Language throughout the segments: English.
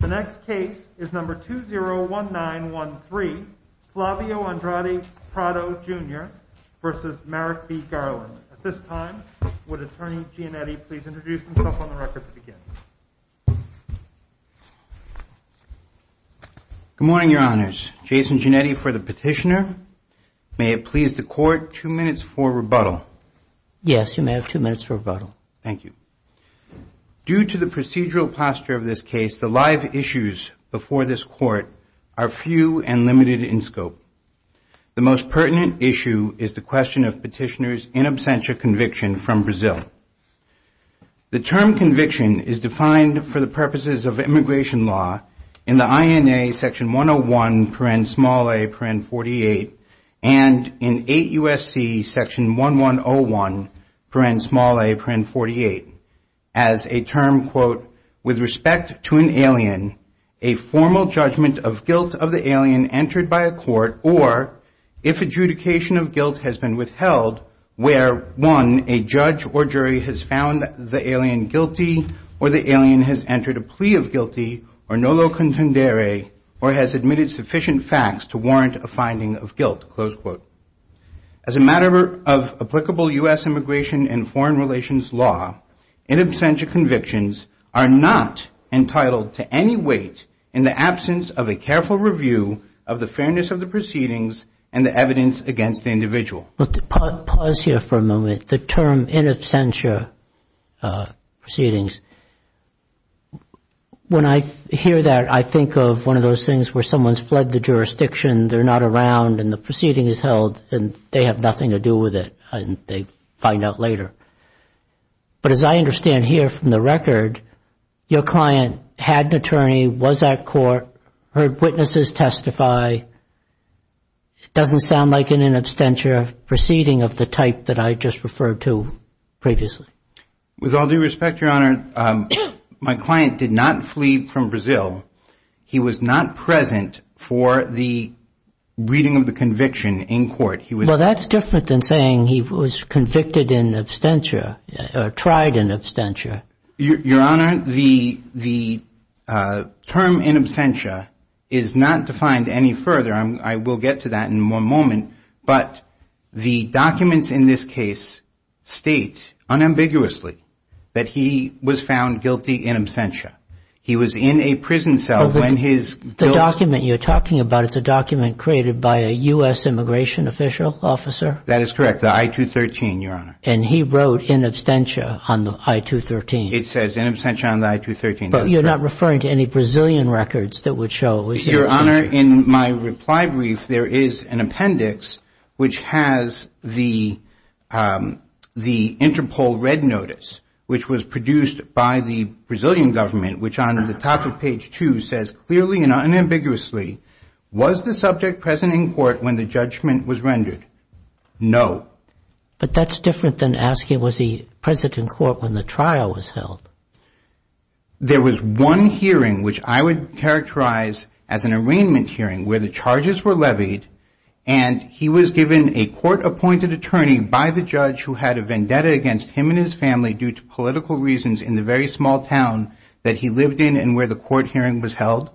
The next case is number 201913, Flavio Andrade-Prado, Jr. v. Merrick B. Garland. At this time, would Attorney Gianetti please introduce himself on the record to begin? Good morning, Your Honors. Jason Gianetti for the petitioner. May it please the Court, two minutes for rebuttal. Yes, you may have two minutes for rebuttal. Thank you. Due to the procedural posture of this case, the live issues before this Court are few and limited in scope. The most pertinent issue is the question of petitioner's in absentia conviction from Brazil. The term conviction is defined for the purposes of immigration law in the INA Section 101, parent small a, parent 48, and in 8 U.S.C. Section 1101, parent small a, parent 48, as a term, quote, with respect to an alien, a formal judgment of guilt of the alien entered by a court, or if adjudication of guilt has been withheld where, one, a judge or jury has found the alien guilty or the alien has entered a plea of guilty or nolo contendere or has admitted sufficient facts to warrant a finding of guilt, close quote. As a matter of applicable U.S. immigration and foreign relations law, in absentia convictions are not entitled to any weight in the absence of a careful review of the fairness of the proceedings and the evidence against the individual. Pause here for a moment. The term in absentia proceedings, when I hear that, I think of one of those things where someone's fled the jurisdiction, they're not around and the proceeding is held and they have nothing to do with it and they find out later. But as I understand here from the record, your client had an attorney, was at court, heard witnesses testify. It doesn't sound like in an absentia proceeding of the type that I just referred to previously. With all due respect, Your Honor, my client did not flee from Brazil. He was not present for the reading of the conviction in court. Well, that's different than saying he was convicted in absentia or tried in absentia. Your Honor, the term in absentia is not defined any further. I will get to that in one moment. But the documents in this case state unambiguously that he was found guilty in absentia. He was in a prison cell. The document you're talking about is a document created by a U.S. immigration official, officer? That is correct, the I-213, Your Honor. And he wrote in absentia on the I-213? It says in absentia on the I-213. But you're not referring to any Brazilian records that would show? Your Honor, in my reply brief, there is an appendix which has the Interpol red notice, which was produced by the Brazilian government, which on the top of page two says, clearly and unambiguously, was the subject present in court when the judgment was rendered? No. But that's different than asking, was he present in court when the trial was held? There was one hearing, which I would characterize as an arraignment hearing, where the charges were levied and he was given a court-appointed attorney by the judge who had a vendetta against him and his family due to political reasons in the very small town that he lived in and where the court hearing was held.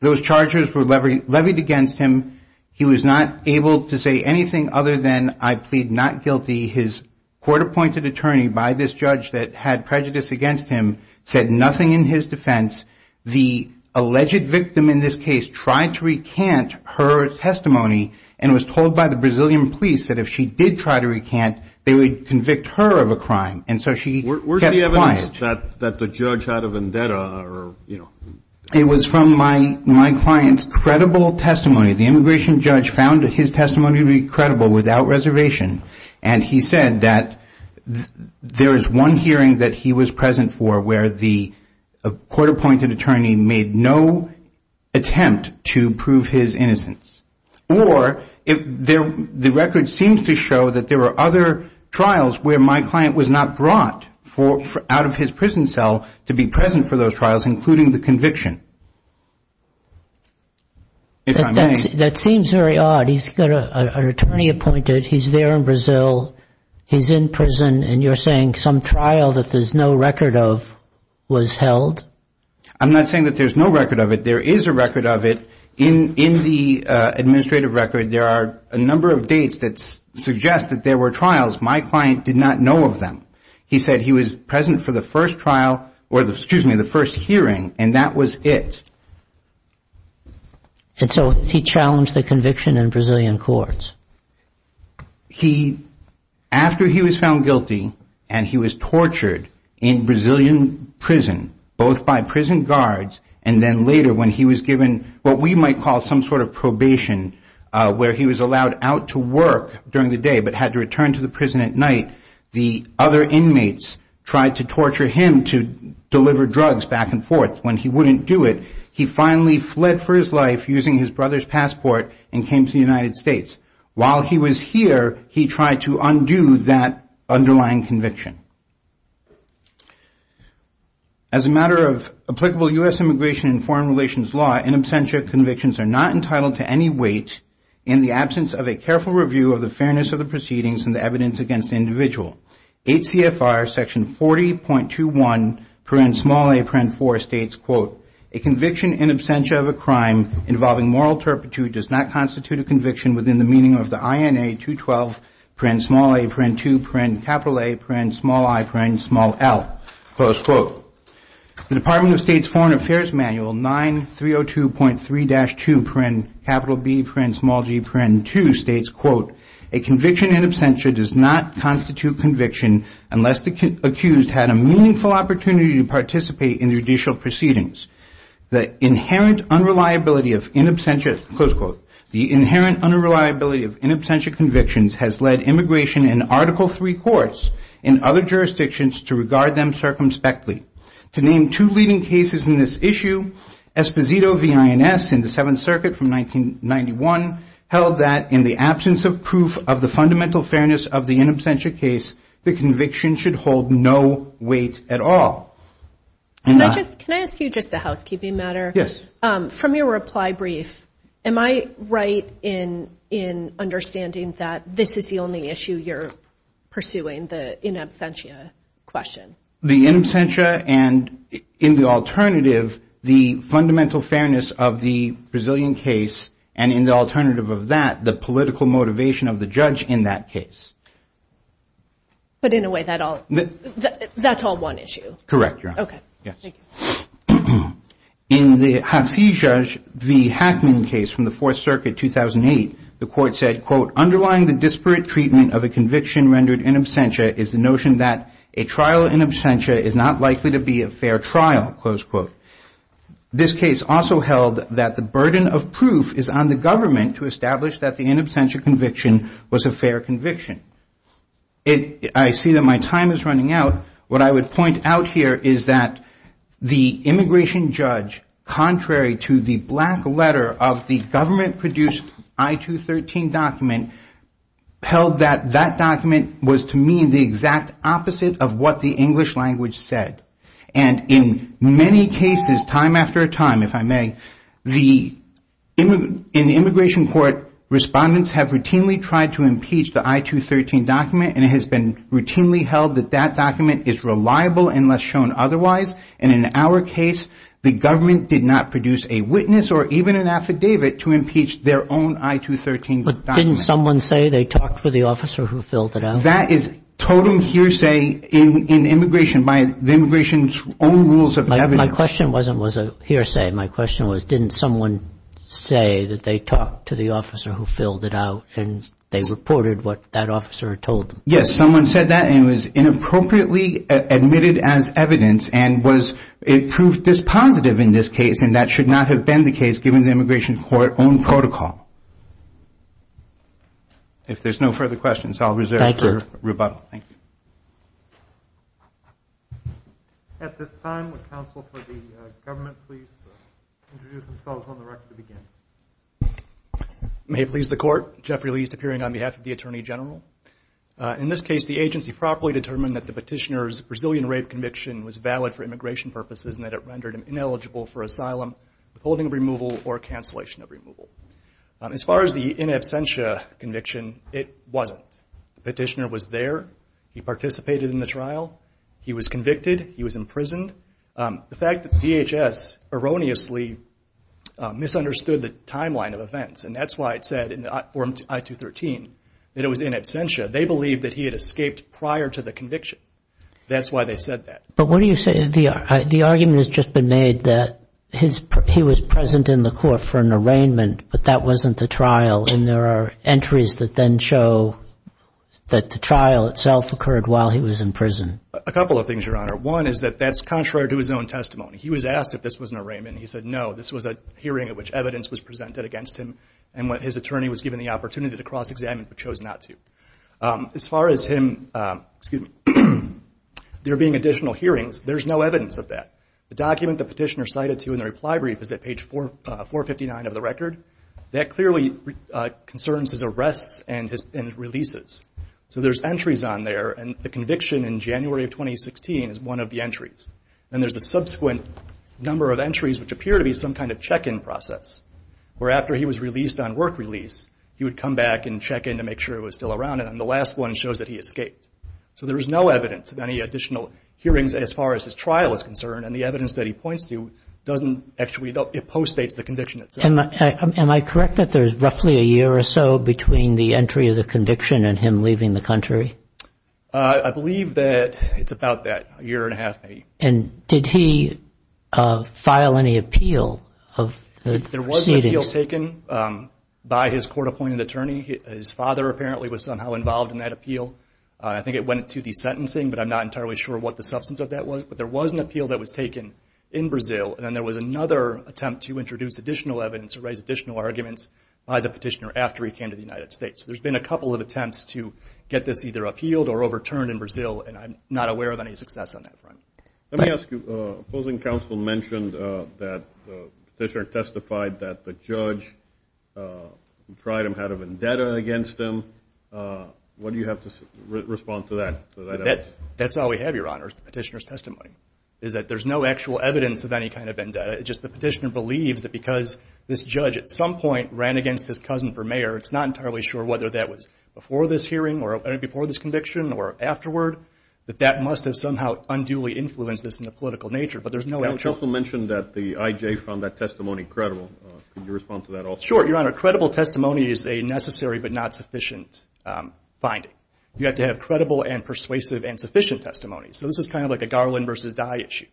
Those charges were levied against him. He was not able to say anything other than, I plead not guilty. His court-appointed attorney by this judge that had prejudice against him said nothing in his defense. The alleged victim in this case tried to recant her testimony and was told by the Brazilian police that if she did try to recant, they would convict her of a crime. And so she kept quiet. Where's the evidence that the judge had a vendetta? It was from my client's credible testimony. The immigration judge found his testimony to be credible without reservation, and he said that there is one hearing that he was present for where the court-appointed attorney made no attempt to prove his innocence. Or the record seems to show that there were other trials where my client was not brought out of his prison cell to be present for those trials, including the conviction. If I may. That seems very odd. He's got an attorney appointed. He's there in Brazil. He's in prison, and you're saying some trial that there's no record of was held? I'm not saying that there's no record of it. There is a record of it. In the administrative record, there are a number of dates that suggest that there were trials. My client did not know of them. He said he was present for the first hearing, and that was it. And so he challenged the conviction in Brazilian courts. After he was found guilty and he was tortured in Brazilian prison, both by prison guards and then later when he was given what we might call some sort of probation, where he was allowed out to work during the day but had to return to the prison at night, the other inmates tried to torture him to deliver drugs back and forth. When he wouldn't do it, he finally fled for his life using his brother's passport and came to the United States. While he was here, he tried to undo that underlying conviction. As a matter of applicable U.S. immigration and foreign relations law, in absentia convictions are not entitled to any weight in the absence of a careful review of the fairness of the proceedings and the evidence against the individual. HCFR section 40.21, small a, parent four states, quote, a conviction in absentia of a crime involving moral turpitude does not constitute a conviction within the meaning of the INA 212, parent small a, parent two, parent capital A, parent small i, parent small l. Close quote. The Department of State's Foreign Affairs Manual 9302.3-2, parent capital B, parent small g, parent two states, quote, a conviction in absentia does not constitute conviction unless the accused had a meaningful opportunity to participate in judicial proceedings. The inherent unreliability of in absentia, close quote, the inherent unreliability of in absentia convictions has led immigration and Article III courts in other jurisdictions to regard them circumspectly. To name two leading cases in this issue, Esposito v. INS in the Seventh Circuit from 1991 held that in the absence of proof of the fundamental fairness of the in absentia case, the conviction should hold no weight at all. Can I ask you just a housekeeping matter? Yes. From your reply brief, am I right in understanding that this is the only issue you're pursuing, the in absentia question? The in absentia and in the alternative, the fundamental fairness of the Brazilian case, and in the alternative of that, the political motivation of the judge in that case. But in a way, that's all one issue. Correct, Your Honor. Okay. Yes. Thank you. In the Haxijas v. Hackman case from the Fourth Circuit 2008, the court said, quote, underlying the disparate treatment of a conviction rendered in absentia is the notion that a trial in absentia is not likely to be a fair trial, close quote. This case also held that the burden of proof is on the government to establish that the in absentia conviction was a fair conviction. I see that my time is running out. What I would point out here is that the immigration judge, contrary to the black letter of the government-produced I-213 document, held that that document was to me the exact opposite of what the English language said. And in many cases, time after time, if I may, in immigration court, respondents have routinely tried to impeach the I-213 document, and it has been routinely held that that document is reliable unless shown otherwise. And in our case, the government did not produce a witness or even an affidavit to impeach their own I-213 document. But didn't someone say they talked for the officer who filled it out? That is totem hearsay in immigration by the immigration's own rules of evidence. My question wasn't was a hearsay. My question was didn't someone say that they talked to the officer who filled it out, and they reported what that officer told them? Yes, someone said that, and it was inappropriately admitted as evidence, and it proved dispositive in this case, and that should not have been the case given the immigration court own protocol. If there's no further questions, I'll reserve for rebuttal. Thank you. At this time, would counsel for the government please introduce themselves on the record to begin? May it please the court, Jeffrey Liest, appearing on behalf of the Attorney General. In this case, the agency properly determined that the petitioner's Brazilian rape conviction was valid for immigration purposes and that it rendered him ineligible for asylum, withholding of removal, or cancellation of removal. As far as the in absentia conviction, it wasn't. The petitioner was there. He participated in the trial. He was convicted. He was imprisoned. The fact that DHS erroneously misunderstood the timeline of events, and that's why it said in I-213 that it was in absentia, they believed that he had escaped prior to the conviction. That's why they said that. But what do you say? The argument has just been made that he was present in the court for an arraignment, but that wasn't the trial, and there are entries that then show that the trial itself occurred while he was in prison. A couple of things, Your Honor. One is that that's contrary to his own testimony. He was asked if this was an arraignment, and he said no. This was a hearing at which evidence was presented against him, and his attorney was given the opportunity to cross-examine, but chose not to. As far as him, there being additional hearings, there's no evidence of that. The document the petitioner cited to in the reply brief is at page 459 of the record. That clearly concerns his arrests and his releases. So there's entries on there, and the conviction in January of 2016 is one of the entries. Then there's a subsequent number of entries which appear to be some kind of check-in process, where after he was released on work release, he would come back and check in to make sure he was still around, and the last one shows that he escaped. So there is no evidence of any additional hearings as far as his trial is concerned, and the evidence that he points to doesn't actually post-date the conviction itself. Am I correct that there's roughly a year or so between the entry of the conviction and him leaving the country? I believe that it's about that, a year and a half maybe. And did he file any appeal? There was an appeal taken by his court-appointed attorney. His father apparently was somehow involved in that appeal. I think it went to the sentencing, but I'm not entirely sure what the substance of that was. But there was an appeal that was taken in Brazil, and then there was another attempt to introduce additional evidence or raise additional arguments by the petitioner after he came to the United States. So there's been a couple of attempts to get this either appealed or overturned in Brazil, and I'm not aware of any success on that front. Let me ask you, opposing counsel mentioned that the petitioner testified that the judge who tried him had a vendetta against him. What do you have to respond to that? That's all we have, Your Honors, the petitioner's testimony, is that there's no actual evidence of any kind of vendetta. It's just the petitioner believes that because this judge at some point ran against his cousin for mayor, it's not entirely sure whether that was before this hearing or before this conviction or afterward, that that must have somehow unduly influenced this in the political nature. But there's no actual... Counsel mentioned that the IJ found that testimony credible. Could you respond to that also? Sure, Your Honor. Credible testimony is a necessary but not sufficient finding. You have to have credible and persuasive and sufficient testimony. So this is kind of like a garland versus dye issue.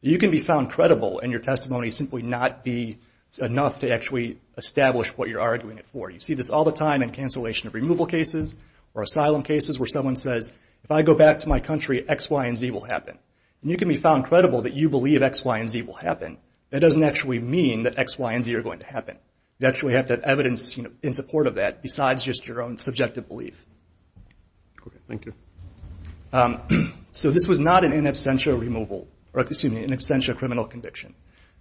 You can be found credible and your testimony simply not be enough to actually establish what you're arguing it for. You see this all the time in cancellation of removal cases or asylum cases where someone says, if I go back to my country, X, Y, and Z will happen. And you can be found credible that you believe X, Y, and Z will happen. That doesn't actually mean that X, Y, and Z are going to happen. You actually have to have evidence in support of that besides just your own subjective belief. Okay, thank you. So this was not an in absentia criminal conviction,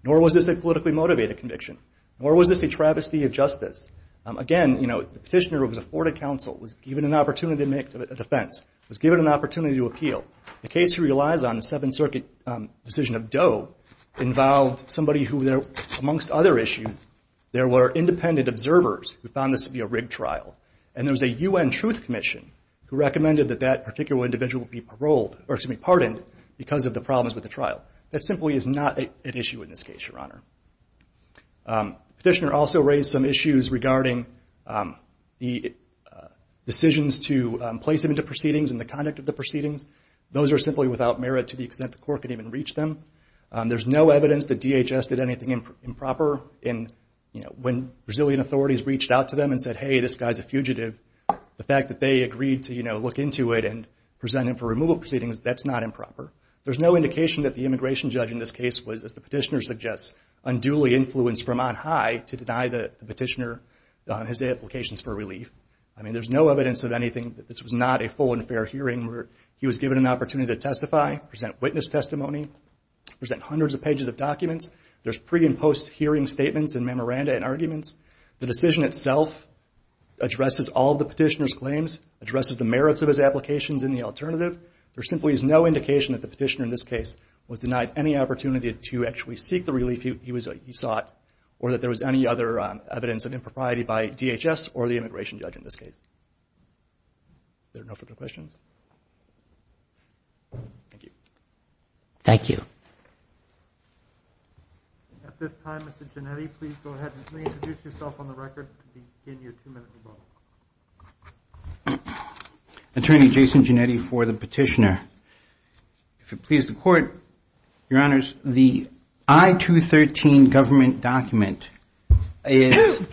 nor was this a politically motivated conviction, nor was this a travesty of justice. Again, the petitioner was afforded counsel, was given an opportunity to make a defense, was given an opportunity to appeal. The case he relies on, the Seventh Circuit decision of Doe, involved somebody who, amongst other issues, there were independent observers who found this to be a rigged trial. And there was a U.N. Truth Commission who recommended that that particular individual be pardoned because of the problems with the trial. That simply is not an issue in this case, Your Honor. The petitioner also raised some issues regarding the decisions to place him into proceedings and the conduct of the proceedings. Those are simply without merit to the extent the court could even reach them. There's no evidence that DHS did anything improper. When Brazilian authorities reached out to them and said, hey, this guy's a fugitive, the fact that they agreed to look into it and present him for removal proceedings, that's not improper. There's no indication that the immigration judge in this case was, as the petitioner suggests, unduly influenced from on high to deny the petitioner his applications for relief. I mean, there's no evidence of anything, that this was not a full and fair hearing where he was given an opportunity to testify, present witness testimony, present hundreds of pages of documents. There's pre- and post-hearing statements and memoranda and arguments. The decision itself addresses all the petitioner's claims, addresses the merits of his applications and the alternative. There simply is no indication that the petitioner in this case was denied any opportunity to actually seek the relief he sought or that there was any other evidence of impropriety by DHS or the immigration judge in this case. Is there no further questions? Thank you. Thank you. At this time, Mr. Gianetti, please go ahead and please introduce yourself on the record to begin your two-minute rebuttal. Attorney Jason Gianetti for the petitioner. If it pleases the Court, Your Honors, the I-213 government document is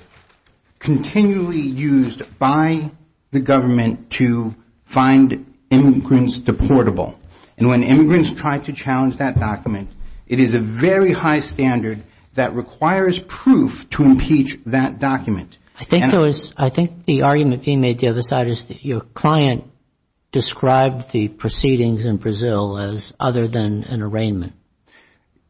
continually used by the government to find immigrants deportable. And when immigrants try to challenge that document, it is a very high standard that requires proof to impeach that document. I think the argument being made, the other side, is that your client described the proceedings in Brazil as other than an arraignment.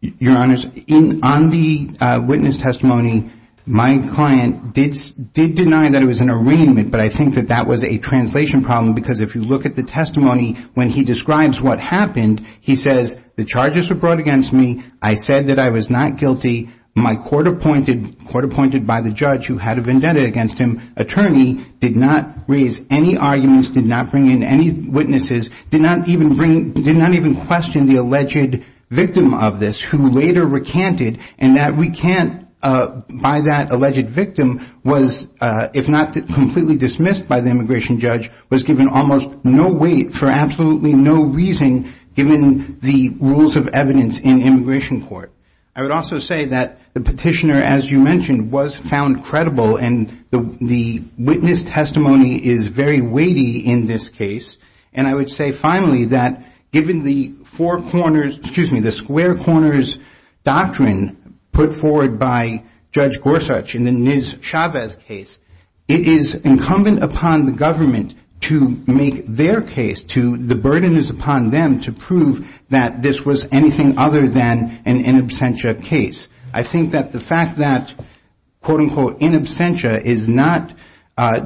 Your Honors, on the witness testimony, my client did deny that it was an arraignment, but I think that that was a translation problem because if you look at the testimony, when he describes what happened, he says the charges were brought against me. I said that I was not guilty. My court appointed by the judge who had a vendetta against him, the attorney did not raise any arguments, did not bring in any witnesses, did not even question the alleged victim of this who later recanted and that recant by that alleged victim was, if not completely dismissed by the immigration judge, was given almost no weight for absolutely no reason given the rules of evidence in immigration court. I would also say that the petitioner, as you mentioned, was found credible and the witness testimony is very weighty in this case and I would say finally that given the four corners, excuse me, the square corners doctrine put forward by Judge Gorsuch in the Ms. Chavez case, it is incumbent upon the government to make their case, the burden is upon them to prove that this was anything other than an in absentia case. I think that the fact that, quote, unquote, in absentia is not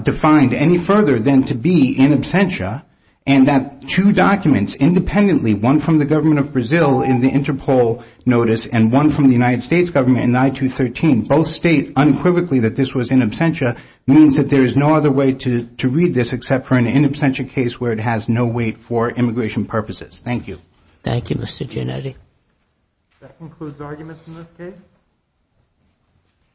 defined any further than to be in absentia and that two documents independently, one from the government of Brazil in the Interpol notice and one from the United States government in I-213, both state unequivocally that this was in absentia, means that there is no other way to read this except for an in absentia case where it has no weight for immigration purposes. Thank you. Thank you, Mr. Giannulli. That concludes arguments in this case.